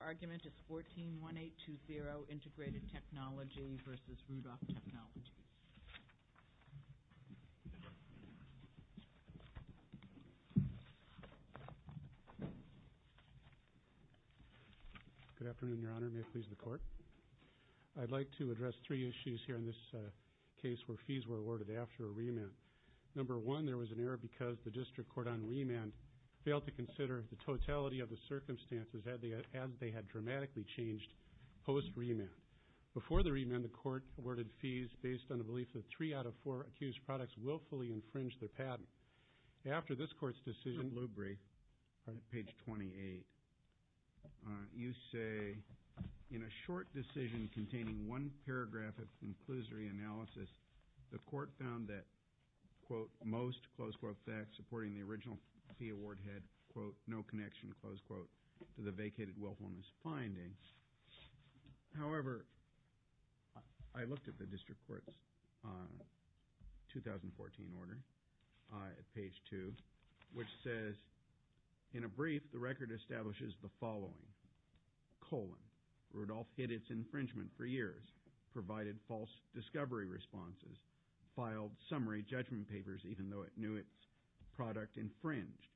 Your argument is 14-1820, Integrated Technology v. Rudolph Technologies. Good afternoon, Your Honor, and may it please the Court. I'd like to address three issues here in this case where fees were awarded after a remand. Number one, there was an error because the district court on remand failed to consider the totality of the circumstances as they had dramatically changed post-remand. Before the remand, the Court awarded fees based on the belief that three out of four accused products willfully infringed their patent. After this Court's decision, page 28, you say, in a short decision containing one paragraph of conclusory analysis, the Court found that, quote, most, close quote, facts supporting the original fee award had, quote, no connection, close quote, to the vacated willfulness finding. However, I looked at the district court's 2014 order at page 2, which says, in a brief, the record establishes the following, colon, Rudolph hid its infringement for years, provided false discovery responses, filed summary judgment papers even though it knew its product infringed,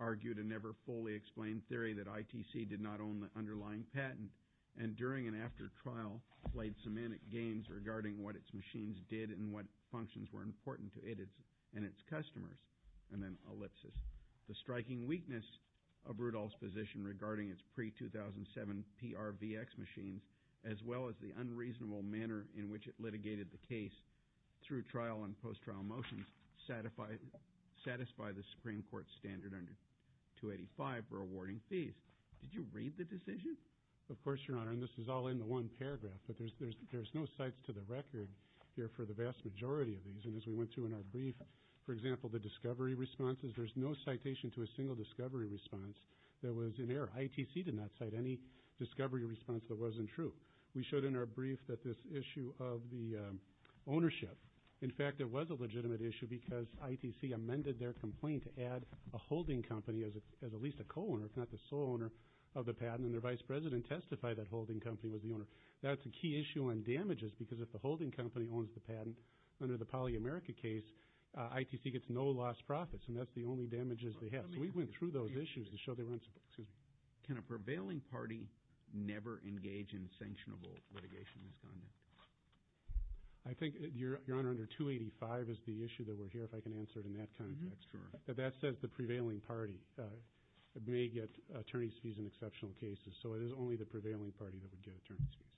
argued a never fully explained theory that ITC did not own the underlying patent, and during and after trial played semantic games regarding what its machines did and what functions were important to it and its customers. And then ellipsis, the striking weakness of Rudolph's position regarding its pre-2007 PRVX machines as well as the unreasonable manner in which it litigated the case through trial and post-trial motions satisfy the Supreme Court standard under 285 for awarding fees. Did you read the decision? Of course, Your Honor, and this is all in the one paragraph, but there's no cites to the record here for the vast majority of these. And as we went through in our brief, for example, the discovery responses, ITC did not cite any discovery response that wasn't true. We showed in our brief that this issue of the ownership, in fact, it was a legitimate issue because ITC amended their complaint to add a holding company as at least a co-owner, if not the sole owner of the patent, and their vice president testified that holding company was the owner. That's a key issue on damages because if the holding company owns the patent, under the PolyAmerica case, ITC gets no lost profits, and that's the only damages they have. So we went through those issues to show they weren't, excuse me. Can a prevailing party never engage in sanctionable litigation misconduct? I think, Your Honor, under 285 is the issue that we're here, if I can answer it in that kind of text. That says the prevailing party may get attorney's fees in exceptional cases, so it is only the prevailing party that would get attorney's fees.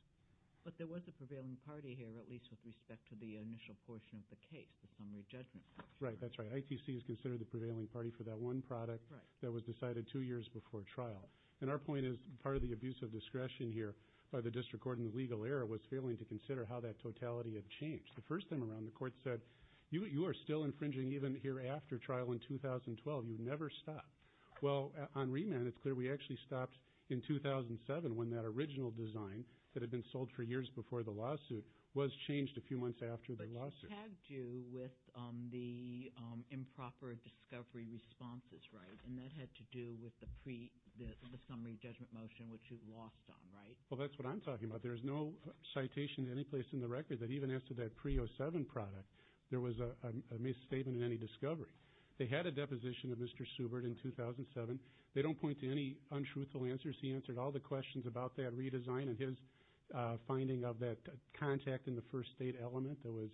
But there was a prevailing party here, at least with respect to the initial portion of the case, the summary judgment. Right, that's right. ITC is considered the prevailing party for that one product that was decided two years before trial. And our point is part of the abuse of discretion here by the district court in the legal era was failing to consider how that totality had changed. The first time around, the court said, you are still infringing even here after trial in 2012. You never stopped. Well, on remand, it's clear we actually stopped in 2007 when that original design that had been sold for years before the lawsuit was changed a few months after the lawsuit. But that had to do with the improper discovery responses, right? And that had to do with the summary judgment motion, which you lost on, right? Well, that's what I'm talking about. There is no citation in any place in the record that even as to that pre-'07 product. There was a misstatement in any discovery. They had a deposition of Mr. Subart in 2007. They don't point to any untruthful answers. He answered all the questions about that redesign and his finding of that contact in the first state element that was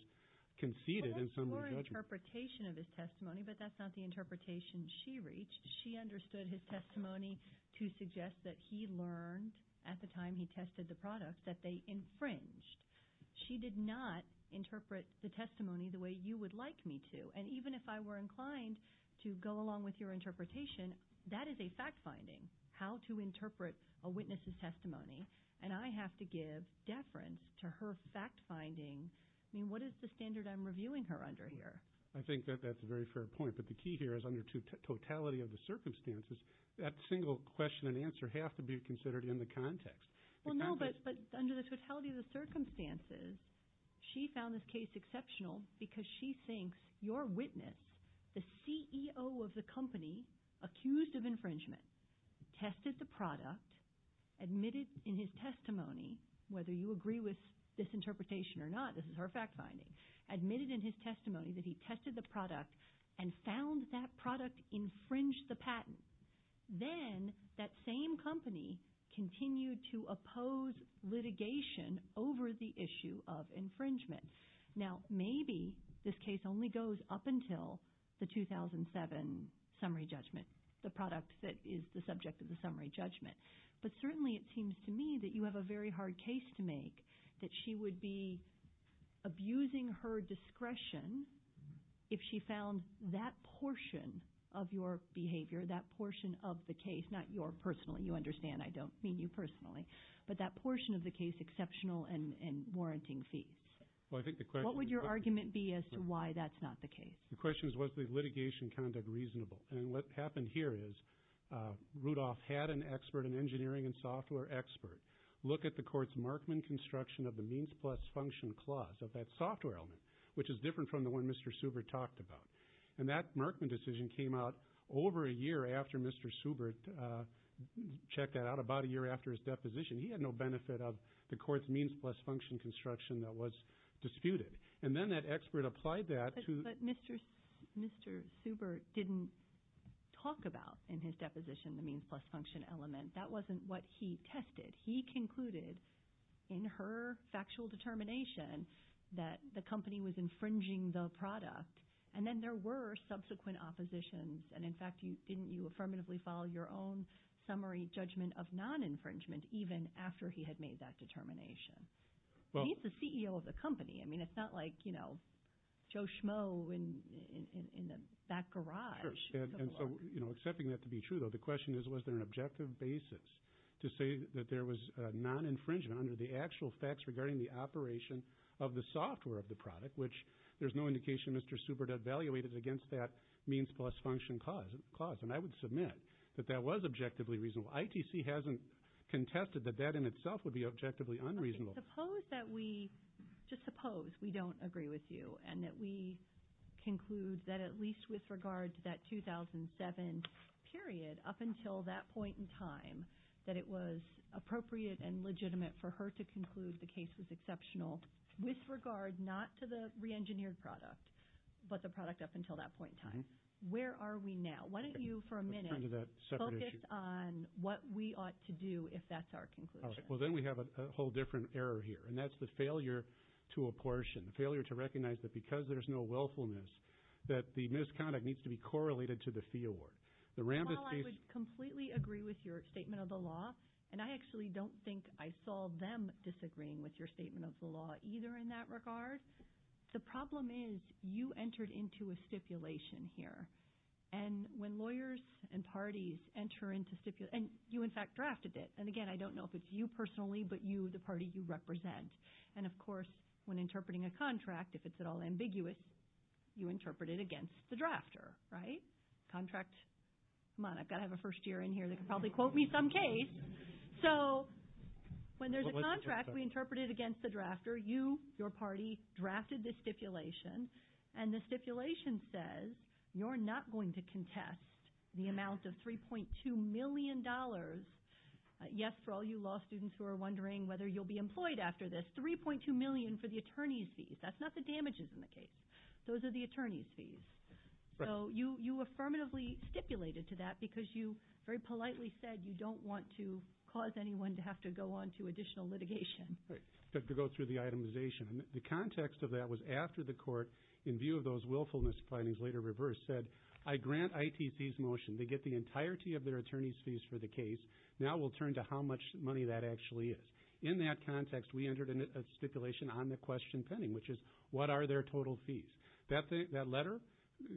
conceded in summary judgment. Well, that's your interpretation of his testimony, but that's not the interpretation she reached. She understood his testimony to suggest that he learned at the time he tested the product that they infringed. She did not interpret the testimony the way you would like me to. And even if I were inclined to go along with your interpretation, that is a fact-finding, how to interpret a witness's testimony, and I have to give deference to her fact-finding. I mean, what is the standard I'm reviewing her under here? I think that that's a very fair point, but the key here is under totality of the circumstances, that single question and answer have to be considered in the context. Well, no, but under the totality of the circumstances, she found this case exceptional because she thinks your witness, the CEO of the company accused of infringement, tested the product, admitted in his testimony, whether you agree with this interpretation or not, this is her fact-finding, admitted in his testimony that he tested the product and found that product infringed the patent. Then that same company continued to oppose litigation over the issue of infringement. Now, maybe this case only goes up until the 2007 summary judgment, the product that is the subject of the summary judgment. But certainly it seems to me that you have a very hard case to make, that she would be abusing her discretion if she found that portion of your behavior, that portion of the case, not your personal, you understand, I don't mean you personally, but that portion of the case exceptional and warranting fees. What would your argument be as to why that's not the case? The question is, was the litigation conduct reasonable? And what happened here is Rudolph had an expert, an engineering and software expert, look at the court's Markman construction of the means plus function clause of that software element, which is different from the one Mr. Subert talked about. And that Markman decision came out over a year after Mr. Subert checked that out, about a year after his deposition. He had no benefit of the court's means plus function construction that was disputed. And then that expert applied that to— But Mr. Subert didn't talk about in his deposition the means plus function element. That wasn't what he tested. He concluded in her factual determination that the company was infringing the product, and then there were subsequent oppositions. And, in fact, didn't you affirmatively follow your own summary judgment of non-infringement even after he had made that determination? He's the CEO of the company. I mean, it's not like, you know, Joe Schmo in the back garage. And so, you know, accepting that to be true, though, the question is, was there an objective basis to say that there was non-infringement under the actual facts regarding the operation of the software of the product, which there's no indication Mr. Subert evaluated against that means plus function clause? And I would submit that that was objectively reasonable. ITC hasn't contested that that in itself would be objectively unreasonable. Suppose that we—just suppose we don't agree with you, and that we conclude that at least with regard to that 2007 period up until that point in time that it was appropriate and legitimate for her to conclude the case was exceptional with regard not to the re-engineered product, but the product up until that point in time. Where are we now? Why don't you for a minute focus on what we ought to do if that's our conclusion. Well, then we have a whole different error here, and that's the failure to apportion, the failure to recognize that because there's no willfulness that the misconduct needs to be correlated to the fee award. While I would completely agree with your statement of the law, and I actually don't think I saw them disagreeing with your statement of the law either in that regard, the problem is you entered into a stipulation here. And when lawyers and parties enter into—and you, in fact, drafted it. And, again, I don't know if it's you personally, but you, the party you represent. And, of course, when interpreting a contract, if it's at all ambiguous, you interpret it against the drafter, right? Come on, I've got to have a first-year in here that can probably quote me some case. So when there's a contract, we interpret it against the drafter. You, your party, drafted this stipulation. And the stipulation says you're not going to contest the amount of $3.2 million. Yes, for all you law students who are wondering whether you'll be employed after this, $3.2 million for the attorney's fees. That's not the damages in the case. Those are the attorney's fees. So you affirmatively stipulated to that because you very politely said you don't want to cause anyone to have to go on to additional litigation. Right, to go through the itemization. The context of that was after the court, in view of those willfulness findings later reversed, said I grant ITC's motion. They get the entirety of their attorney's fees for the case. Now we'll turn to how much money that actually is. In that context, we entered a stipulation on the question pending, which is what are their total fees? That letter,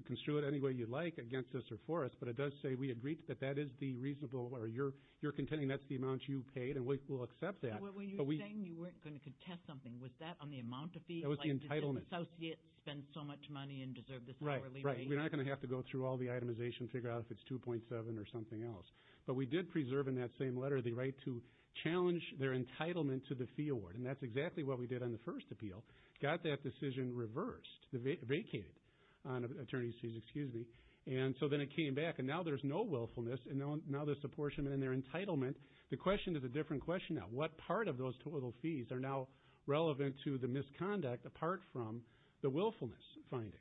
construe it any way you'd like against us or for us, but it does say we agreed that that is the reasonable, or you're contending that's the amount you paid, and we'll accept that. You were saying you weren't going to contest something. Was that on the amount of fees? That was the entitlement. Associates spend so much money and deserve this hourly rate. Right, right, we're not going to have to go through all the itemization and figure out if it's 2.7 or something else. But we did preserve in that same letter the right to challenge their entitlement to the fee award, and that's exactly what we did on the first appeal. Got that decision reversed, vacated on attorney's fees, excuse me. And so then it came back, and now there's no willfulness, and now there's apportionment in their entitlement. The question is a different question now. What part of those total fees are now relevant to the misconduct apart from the willfulness finding?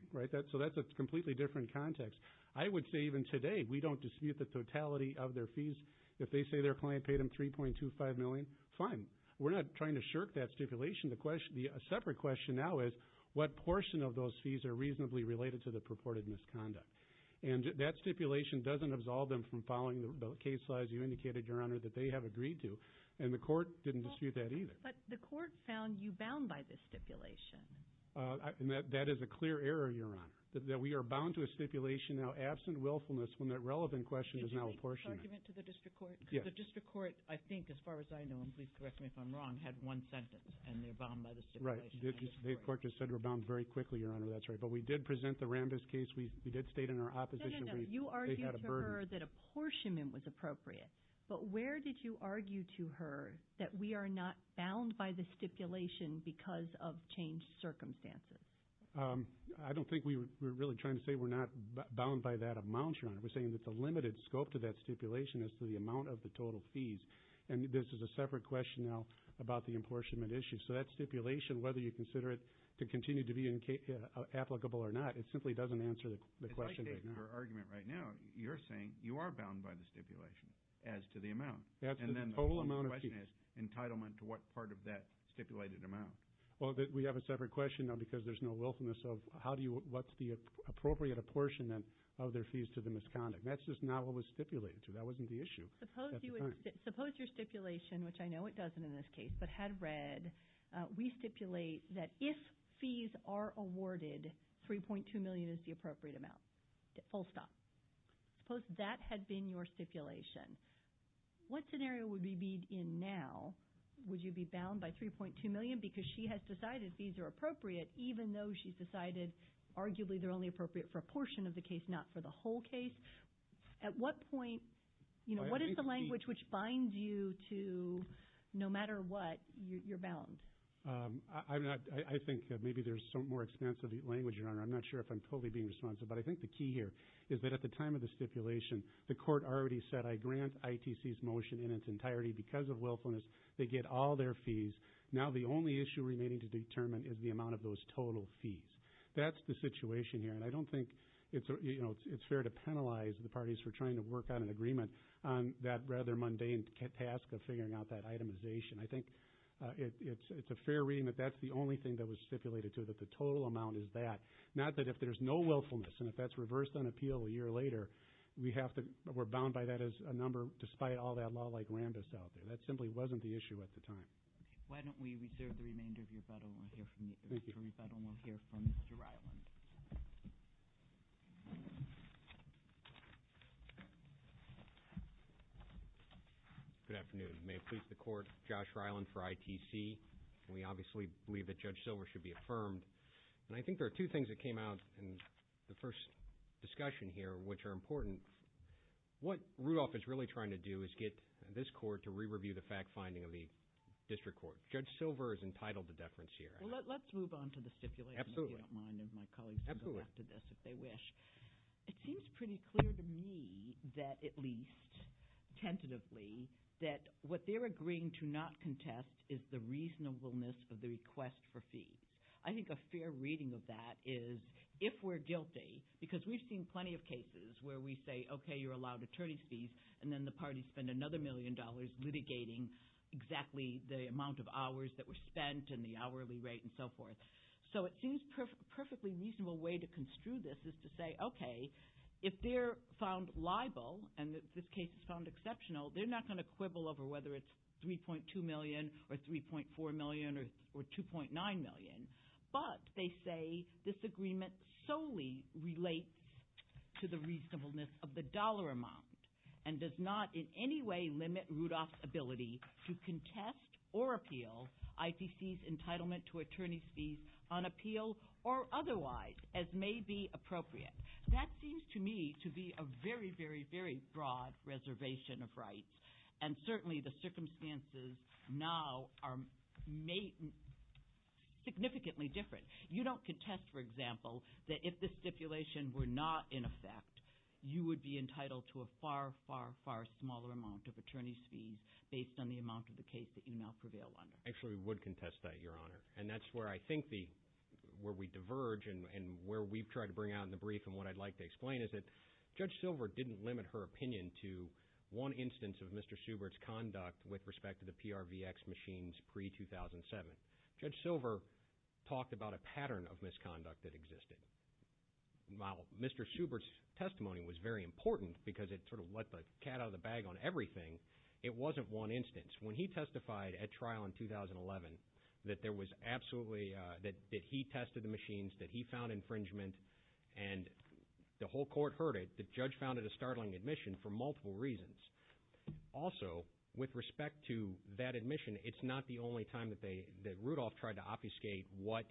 So that's a completely different context. I would say even today we don't dispute the totality of their fees. If they say their client paid them 3.25 million, fine. We're not trying to shirk that stipulation. The separate question now is what portion of those fees are reasonably related to the purported misconduct? And that stipulation doesn't absolve them from following the case laws you indicated, Your Honor, that they have agreed to, and the court didn't dispute that either. But the court found you bound by this stipulation. That is a clear error, Your Honor, that we are bound to a stipulation now absent willfulness when that relevant question is now apportionment. Did you make this argument to the district court? Yes. Because the district court, I think, as far as I know, and please correct me if I'm wrong, had one sentence, and they're bound by the stipulation. Right. The court just said we're bound very quickly, Your Honor. That's right. But we did present the Rambis case. We did state in our opposition. No, no, no. You argued to her that apportionment was appropriate. But where did you argue to her that we are not bound by the stipulation because of changed circumstances? I don't think we were really trying to say we're not bound by that amount, Your Honor. We're saying that the limited scope to that stipulation is to the amount of the total fees. And this is a separate question now about the apportionment issue. So that stipulation, whether you consider it to continue to be applicable or not, it simply doesn't answer the question right now. If I take your argument right now, you're saying you are bound by the stipulation as to the amount. And then the whole question is entitlement to what part of that stipulated amount. Well, we have a separate question now because there's no willfulness of what's the appropriate apportionment of their fees to the misconduct. That's just not what was stipulated to. That wasn't the issue at the time. Suppose your stipulation, which I know it doesn't in this case, but had read, we stipulate that if fees are awarded, $3.2 million is the appropriate amount, full stop. Suppose that had been your stipulation. What scenario would we be in now? Would you be bound by $3.2 million because she has decided fees are appropriate, even though she's decided arguably they're only appropriate for a portion of the case, not for the whole case? At what point, what is the language which binds you to no matter what, you're bound? I think maybe there's some more expansive language, Your Honor. I'm not sure if I'm totally being responsive. But I think the key here is that at the time of the stipulation, the court already said, I grant ITC's motion in its entirety because of willfulness. They get all their fees. Now the only issue remaining to determine is the amount of those total fees. That's the situation here. And I don't think it's fair to penalize the parties for trying to work on an agreement on that rather mundane task of figuring out that itemization. I think it's a fair reading that that's the only thing that was stipulated, too, that the total amount is that. Not that if there's no willfulness and if that's reversed on appeal a year later, we're bound by that as a number despite all that law-like rambus out there. That simply wasn't the issue at the time. Why don't we reserve the remainder of your button. We'll hear from Mr. Rebuttal and we'll hear from Mr. Ryland. Good afternoon. May it please the Court, Josh Ryland for ITC. We obviously believe that Judge Silver should be affirmed. And I think there are two things that came out in the first discussion here which are important. What Rudolph is really trying to do is get this court to re-review the fact-finding of the district court. Judge Silver is entitled to deference here. Well, let's move on to the stipulation, if you don't mind, and my colleagues can go after this if they wish. It seems pretty clear to me that at least tentatively that what they're agreeing to not contest is the reasonableness of the request for fees. I think a fair reading of that is if we're guilty, because we've seen plenty of cases where we say, okay, you're allowed attorney's fees, and then the parties spend another million dollars litigating exactly the amount of hours that were spent and the hourly rate and so forth. So it seems a perfectly reasonable way to construe this is to say, okay, if they're found liable and this case is found exceptional, they're not going to quibble over whether it's $3.2 million or $3.4 million or $2.9 million. But they say this agreement solely relates to the reasonableness of the dollar amount and does not in any way limit Rudolph's ability to contest or appeal ITC's entitlement to attorney's fees on appeal or otherwise, as may be appropriate. That seems to me to be a very, very, very broad reservation of rights, and certainly the circumstances now are significantly different. You don't contest, for example, that if the stipulation were not in effect, you would be entitled to a far, far, far smaller amount of attorney's fees based on the amount of the case that you now prevail under. Actually, we would contest that, Your Honor, and that's where I think the – where we diverge and where we've tried to bring out in the brief and what I'd like to explain is that there was one instance of Mr. Subart's conduct with respect to the PRVX machines pre-2007. Judge Silver talked about a pattern of misconduct that existed. While Mr. Subart's testimony was very important because it sort of let the cat out of the bag on everything, it wasn't one instance. When he testified at trial in 2011 that there was absolutely – that he tested the machines, that he found infringement, and the whole court heard it, the judge found it a startling admission for multiple reasons. Also, with respect to that admission, it's not the only time that they – that Rudolph tried to obfuscate what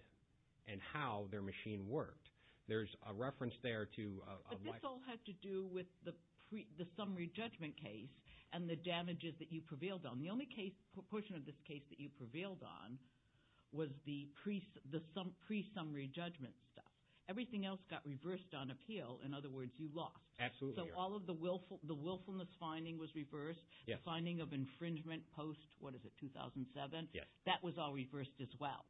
and how their machine worked. There's a reference there to a – But this all had to do with the summary judgment case and the damages that you prevailed on. The only portion of this case that you prevailed on was the pre-summary judgment stuff. Everything else got reversed on appeal. In other words, you lost. Absolutely. So all of the willfulness finding was reversed. The finding of infringement post – what is it, 2007? Yes. That was all reversed as well.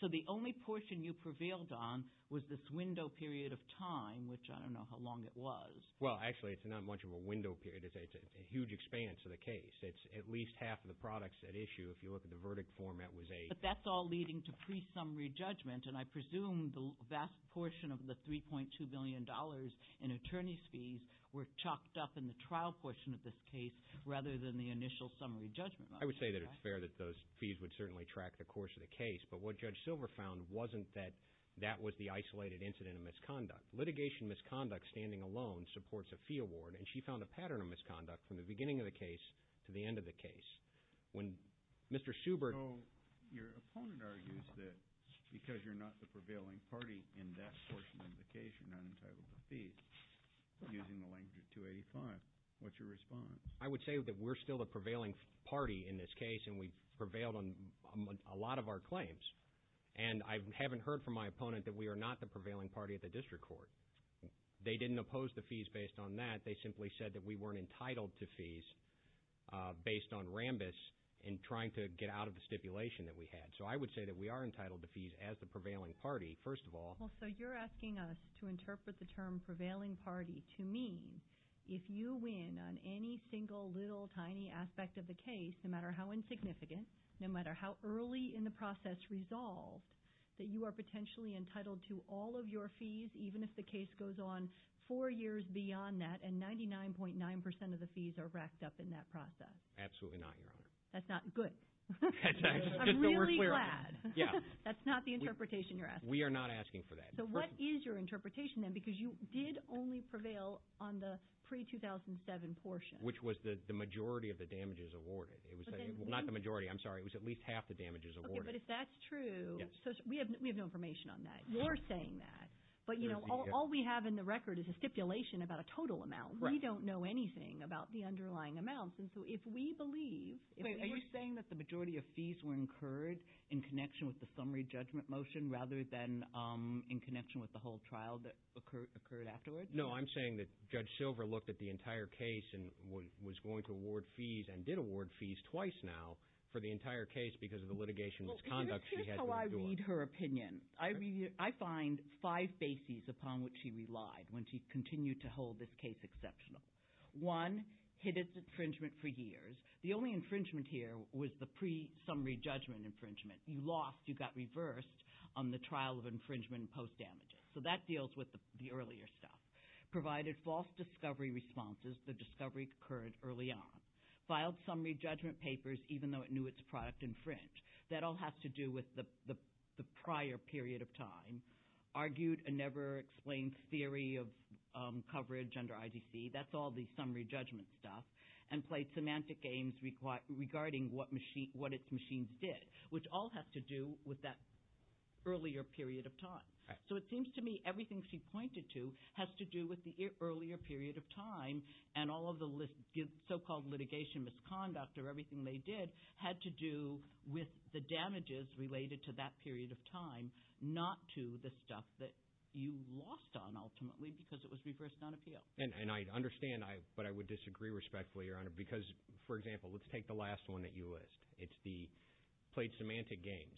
So the only portion you prevailed on was this window period of time, which I don't know how long it was. Well, actually it's not much of a window period. It's a huge expanse of the case. It's at least half of the products at issue if you look at the verdict format was a – But that's all leading to pre-summary judgment. And I presume the vast portion of the $3.2 billion in attorney's fees were chucked up in the trial portion of this case rather than the initial summary judgment. I would say that it's fair that those fees would certainly track the course of the case. But what Judge Silver found wasn't that that was the isolated incident of misconduct. Litigation misconduct standing alone supports a fee award, and she found a pattern of misconduct from the beginning of the case to the end of the case. When Mr. Subert – You're not the prevailing party in that portion of the case. You're not entitled to fees using the language of 285. What's your response? I would say that we're still the prevailing party in this case, and we've prevailed on a lot of our claims. And I haven't heard from my opponent that we are not the prevailing party at the district court. They didn't oppose the fees based on that. They simply said that we weren't entitled to fees based on Rambis in trying to get out of the stipulation that we had. So I would say that we are entitled to fees as the prevailing party, first of all. So you're asking us to interpret the term prevailing party to mean if you win on any single little tiny aspect of the case, no matter how insignificant, no matter how early in the process resolved, that you are potentially entitled to all of your fees even if the case goes on four years beyond that and 99.9% of the fees are racked up in that process. Absolutely not, Your Honor. That's not – good. I'm really glad. Yeah. That's not the interpretation you're asking. We are not asking for that. So what is your interpretation then? Because you did only prevail on the pre-2007 portion. Which was the majority of the damages awarded. Not the majority. I'm sorry. It was at least half the damages awarded. Okay, but if that's true – Yes. We have no information on that. You're saying that. But all we have in the record is a stipulation about a total amount. Right. We don't know anything about the underlying amounts. And so if we believe – Are you saying that the majority of fees were incurred in connection with the summary judgment motion rather than in connection with the whole trial that occurred afterwards? No, I'm saying that Judge Silver looked at the entire case and was going to award fees and did award fees twice now for the entire case because of the litigation misconduct she had to endure. Here's how I read her opinion. I find five bases upon which she relied when she continued to hold this case exceptional. One, hid its infringement for years. The only infringement here was the pre-summary judgment infringement. You lost. You got reversed on the trial of infringement and post-damages. So that deals with the earlier stuff. Provided false discovery responses. The discovery occurred early on. Filed summary judgment papers even though it knew its product infringed. That all has to do with the prior period of time. Argued a never-explained theory of coverage under IDC. That's all the summary judgment stuff. And played semantic games regarding what its machines did, which all has to do with that earlier period of time. So it seems to me everything she pointed to has to do with the earlier period of time and all of the so-called litigation misconduct or everything they did had to do with the damages related to that period of time, not to the stuff that you lost on ultimately because it was reversed on appeal. And I understand, but I would disagree respectfully, Your Honor, because, for example, let's take the last one that you list. It's the played semantic games.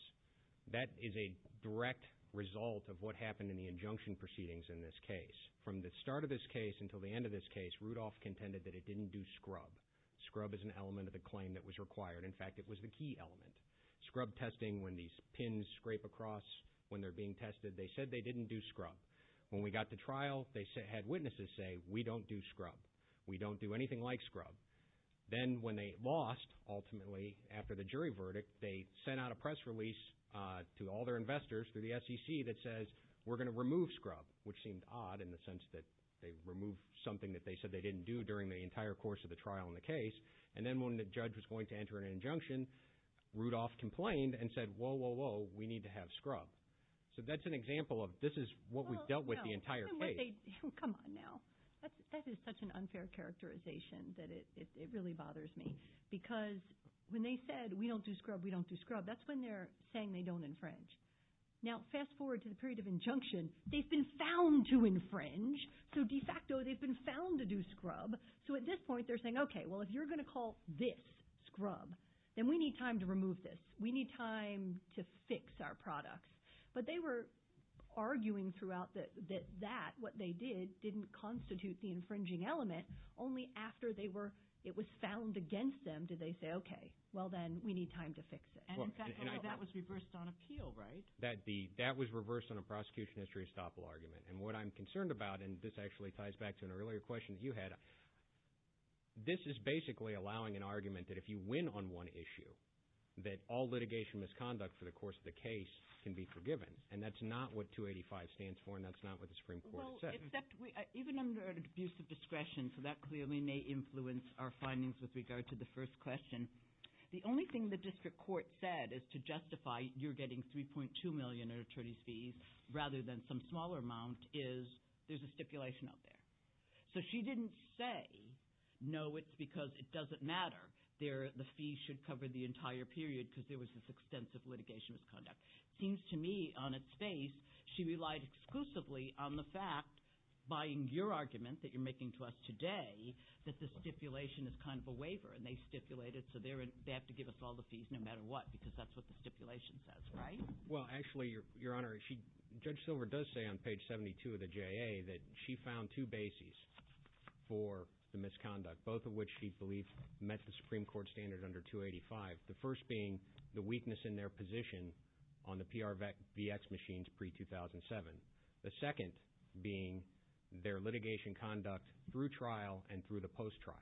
That is a direct result of what happened in the injunction proceedings in this case. From the start of this case until the end of this case, Rudolph contended that it didn't do scrub. Scrub is an element of the claim that was required. In fact, it was the key element. Scrub testing when these pins scrape across when they're being tested, they said they didn't do scrub. When we got to trial, they had witnesses say, we don't do scrub. We don't do anything like scrub. Then when they lost, ultimately, after the jury verdict, they sent out a press release to all their investors through the SEC that says, we're going to remove scrub, which seemed odd in the sense that they removed something that they said they didn't do during the entire course of the trial in the case. And then when the judge was going to enter an injunction, Rudolph complained and said, whoa, whoa, whoa, we need to have scrub. So that's an example of this is what we've dealt with the entire case. Come on now. That is such an unfair characterization that it really bothers me. Because when they said, we don't do scrub, we don't do scrub, that's when they're saying they don't infringe. Now fast forward to the period of injunction. They've been found to infringe. So de facto, they've been found to do scrub. So at this point, they're saying, okay, well, if you're going to call this scrub, then we need time to remove this. We need time to fix our products. But they were arguing throughout that that, what they did, didn't constitute the infringing element. Only after it was found against them did they say, okay, well then we need time to fix it. And in fact, that was reversed on appeal, right? That was reversed on a prosecution history estoppel argument. And what I'm concerned about, and this actually ties back to an earlier question that you had, this is basically allowing an argument that if you win on one issue, that all litigation misconduct for the course of the case can be forgiven. And that's not what 285 stands for and that's not what the Supreme Court has said. Even under an abuse of discretion, so that clearly may influence our findings with regard to the first question, the only thing the district court said is to justify you're getting $3.2 million in attorney's fees rather than some smaller amount is there's a stipulation out there. So she didn't say, no, it's because it doesn't matter. The fee should cover the entire period because there was this extensive litigation misconduct. It seems to me on its face she relied exclusively on the fact, buying your argument that you're making to us today, that the stipulation is kind of a waiver and they stipulate it so they have to give us all the fees no matter what because that's what the stipulation says, right? Well, actually, Your Honor, Judge Silver does say on page 72 of the JA that she found two bases for the misconduct, both of which she believes met the Supreme Court standard under 285, the first being the weakness in their position on the PRVX machines pre-2007, the second being their litigation conduct through trial and through the post-trial,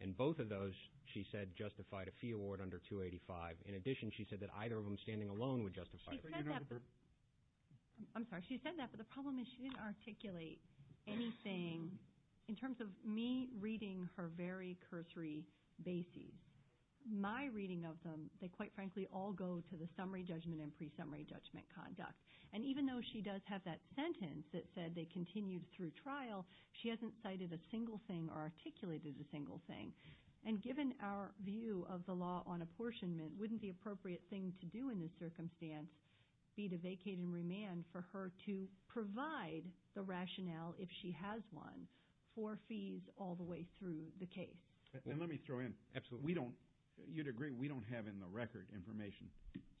and both of those she said justified a fee award under 285. In addition, she said that either of them standing alone would justify it. She said that, but the problem is she didn't articulate anything in terms of me reading her very cursory bases. My reading of them, they quite frankly all go to the summary judgment and pre-summary judgment conduct, and even though she does have that sentence that said they continued through trial, she hasn't cited a single thing or articulated a single thing, and given our view of the law on apportionment, wouldn't the appropriate thing to do in this circumstance be to vacate and remand for her to provide the rationale, if she has one, for fees all the way through the case? And let me throw in, you'd agree we don't have in the record information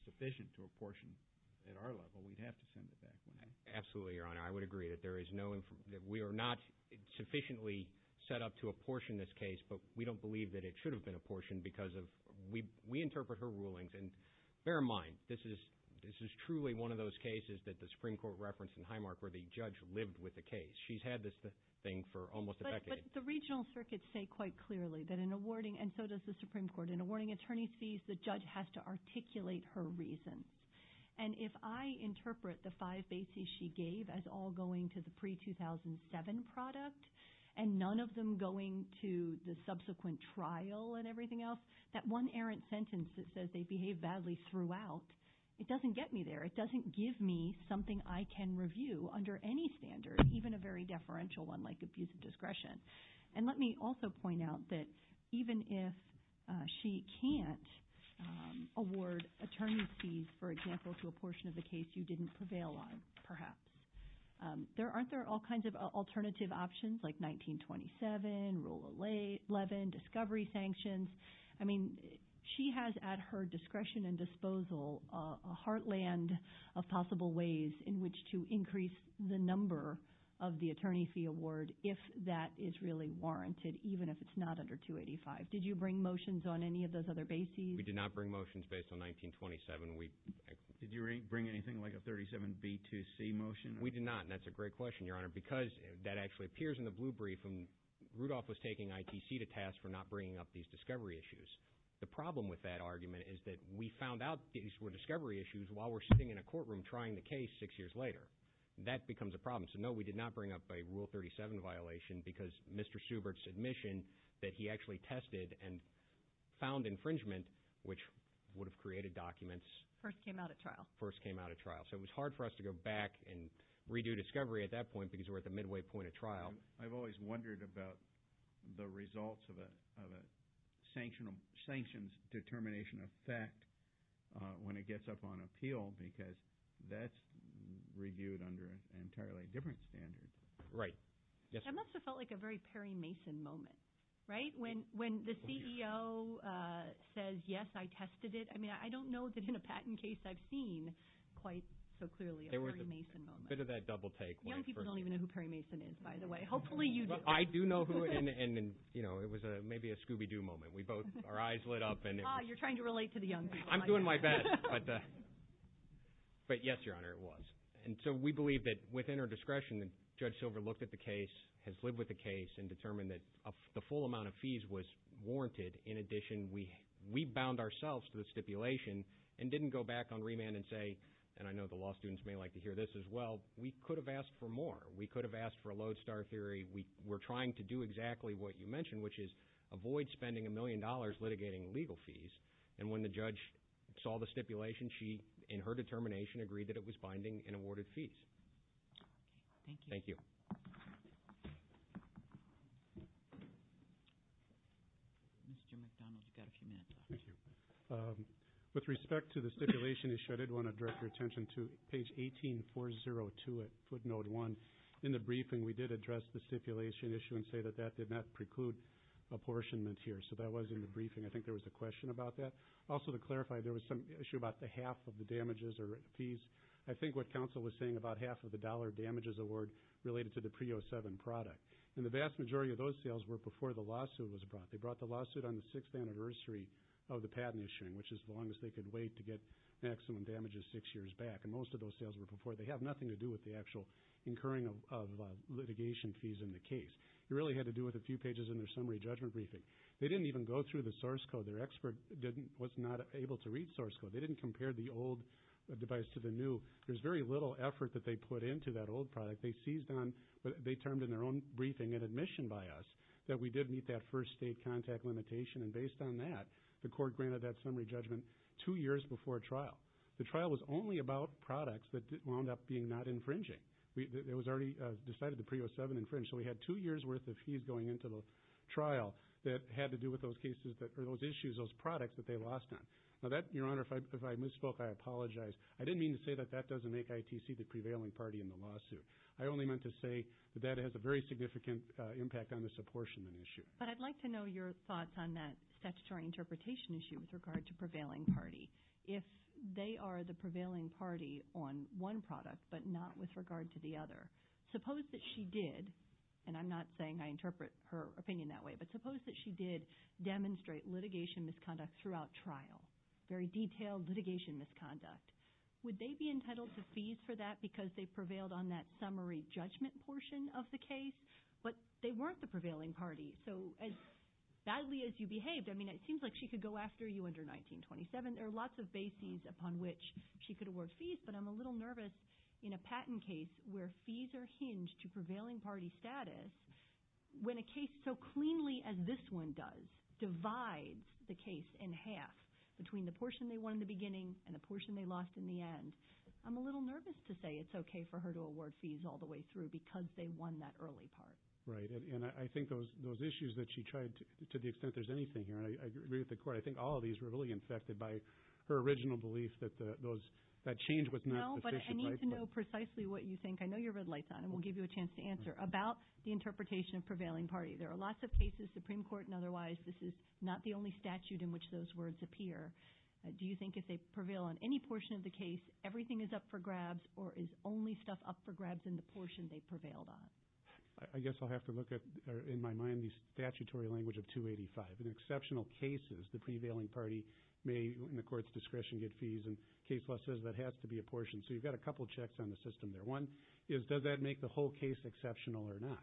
sufficient to apportion at our level. We'd have to send it back one day. Absolutely, Your Honor. I would agree that we are not sufficiently set up to apportion this case, but we don't believe that it should have been apportioned because we interpret her rulings. And bear in mind, this is truly one of those cases that the Supreme Court referenced in Highmark where the judge lived with the case. She's had this thing for almost a decade. But the regional circuits say quite clearly that in awarding, and so does the Supreme Court, in awarding attorney's fees, the judge has to articulate her reasons. And if I interpret the five bases she gave as all going to the pre-2007 product and none of them going to the subsequent trial and everything else, that one errant sentence that says they behaved badly throughout, it doesn't get me there. It doesn't give me something I can review under any standard, even a very deferential one like abuse of discretion. And let me also point out that even if she can't award attorney's fees, for example, to a portion of the case you didn't prevail on, perhaps, aren't there all kinds of alternative options like 1927, Rule 11, discovery sanctions? I mean, she has at her discretion and disposal a heartland of possible ways in which to increase the number of the attorney fee award if that is really warranted, even if it's not under 285. Did you bring motions on any of those other bases? We did not bring motions based on 1927. Did you bring anything like a 37B2C motion? We did not, and that's a great question, Your Honor, because that actually appears in the blue brief. Rudolph was taking ITC to task for not bringing up these discovery issues. The problem with that argument is that we found out these were discovery issues while we're sitting in a courtroom trying the case six years later. That becomes a problem. So, no, we did not bring up a Rule 37 violation because Mr. Subart's admission that he actually tested and found infringement, which would have created documents. First came out at trial. First came out at trial. So it was hard for us to go back and redo discovery at that point because we're at the midway point of trial. I've always wondered about the results of a sanctions determination effect when it gets up on appeal because that's reviewed under an entirely different standard. Right. That must have felt like a very Perry Mason moment, right? When the CEO says, yes, I tested it. I mean, I don't know that in a patent case I've seen quite so clearly a Perry Mason moment. A bit of that double take. Young people don't even know who Perry Mason is, by the way. Hopefully you do. I do know who it is, and, you know, it was maybe a Scooby-Doo moment. Our eyes lit up. You're trying to relate to the young people. I'm doing my best. But, yes, Your Honor, it was. And so we believe that within our discretion Judge Silver looked at the case, has lived with the case, and determined that the full amount of fees was warranted. In addition, we bound ourselves to the stipulation and didn't go back on remand and say, and I know the law students may like to hear this as well, we could have asked for more. We could have asked for a lodestar theory. We're trying to do exactly what you mentioned, which is avoid spending a million dollars litigating legal fees. And when the judge saw the stipulation, she, in her determination, agreed that it was binding and awarded fees. Okay. Thank you. Thank you. Mr. McDonald, you've got a few minutes left. Thank you. With respect to the stipulation issue, I did want to direct your attention to page 18402 at footnote 1. In the briefing, we did address the stipulation issue and say that that did not preclude apportionment here. So that was in the briefing. I think there was a question about that. Also, to clarify, there was some issue about the half of the damages or fees. I think what counsel was saying about half of the dollar damages award related to the PREA 07 product. And the vast majority of those sales were before the lawsuit was brought. They brought the lawsuit on the sixth anniversary of the patent issuing, which is the longest they could wait to get maximum damages six years back. And most of those sales were before. They have nothing to do with the actual incurring of litigation fees in the case. It really had to do with a few pages in their summary judgment briefing. They didn't even go through the source code. Their expert was not able to read source code. They didn't compare the old device to the new. There's very little effort that they put into that old product. They termed in their own briefing and admission by us that we did meet that first state contact limitation. And based on that, the court granted that summary judgment two years before trial. The trial was only about products that wound up being not infringing. It was already decided the PREA 07 infringed. So we had two years' worth of fees going into the trial that had to do with those cases or those issues, those products that they lost on. Now, Your Honor, if I misspoke, I apologize. I didn't mean to say that that doesn't make ITC the prevailing party in the lawsuit. I only meant to say that that has a very significant impact on this apportionment issue. But I'd like to know your thoughts on that statutory interpretation issue with regard to prevailing party. If they are the prevailing party on one product but not with regard to the other, suppose that she did, and I'm not saying I interpret her opinion that way, but suppose that she did demonstrate litigation misconduct throughout trial, very detailed litigation misconduct. Would they be entitled to fees for that because they prevailed on that summary judgment portion of the case? But they weren't the prevailing party. So as badly as you behaved, I mean, it seems like she could go after you under 1927. There are lots of bases upon which she could award fees, but I'm a little nervous in a patent case where fees are hinged to prevailing party status when a case so cleanly as this one does divides the case in half between the portion they won in the beginning and the portion they lost in the end. I'm a little nervous to say it's okay for her to award fees all the way through because they won that early part. Right, and I think those issues that she tried to the extent there's anything here, and I agree with the Court. I think all of these were really infected by her original belief that that change was not sufficient. No, but I need to know precisely what you think. I know your red light's on, and we'll give you a chance to answer. About the interpretation of prevailing party, there are lots of cases, Supreme Court and otherwise, this is not the only statute in which those words appear. Do you think if they prevail on any portion of the case, everything is up for grabs or is only stuff up for grabs in the portion they prevailed on? I guess I'll have to look at, in my mind, the statutory language of 285. In exceptional cases, the prevailing party may, in the Court's discretion, get fees, and case law says that has to be a portion. So you've got a couple checks on the system there. One is does that make the whole case exceptional or not?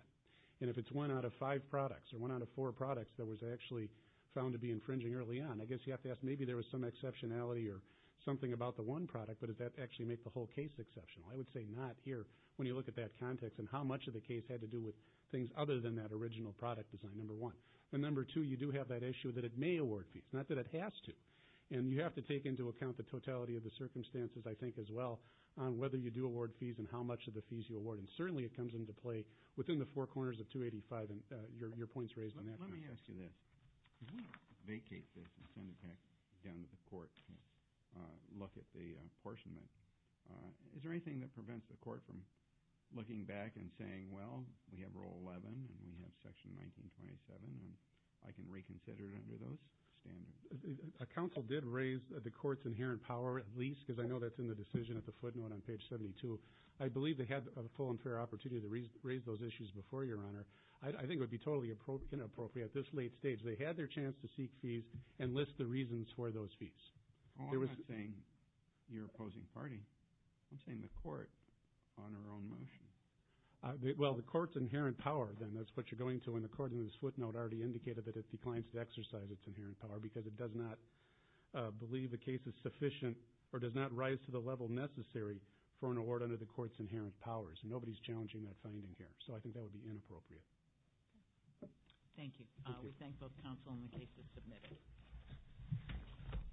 And if it's one out of five products or one out of four products that was actually found to be infringing early on, I guess you have to ask maybe there was some exceptionality or something about the one product, but does that actually make the whole case exceptional? I would say not here when you look at that context and how much of the case had to do with things other than that original product design, number one. And number two, you do have that issue that it may award fees, not that it has to. And you have to take into account the totality of the circumstances, I think, as well, on whether you do award fees and how much of the fees you award. And certainly it comes into play within the four corners of 285, and your point's raised on that. Let me ask you this. If we vacate this and send it back down to the Court to look at the apportionment, is there anything that prevents the Court from looking back and saying, well, we have Rule 11 and we have Section 1927, and I can reconsider it under those standards? A counsel did raise the Court's inherent power, at least, because I know that's in the decision at the footnote on page 72. I believe they had a full and fair opportunity to raise those issues before, Your Honor. I think it would be totally inappropriate at this late stage. They had their chance to seek fees and list the reasons for those fees. I'm not saying your opposing party. I'm saying the Court on her own motion. Well, the Court's inherent power, then. That's what you're going to when the Court in this footnote already indicated that it declines to exercise its inherent power because it does not believe the case is sufficient or does not rise to the level necessary for an award under the Court's inherent powers. Nobody's challenging that finding here. So I think that would be inappropriate. Thank you. We thank both counsel and the cases submitted.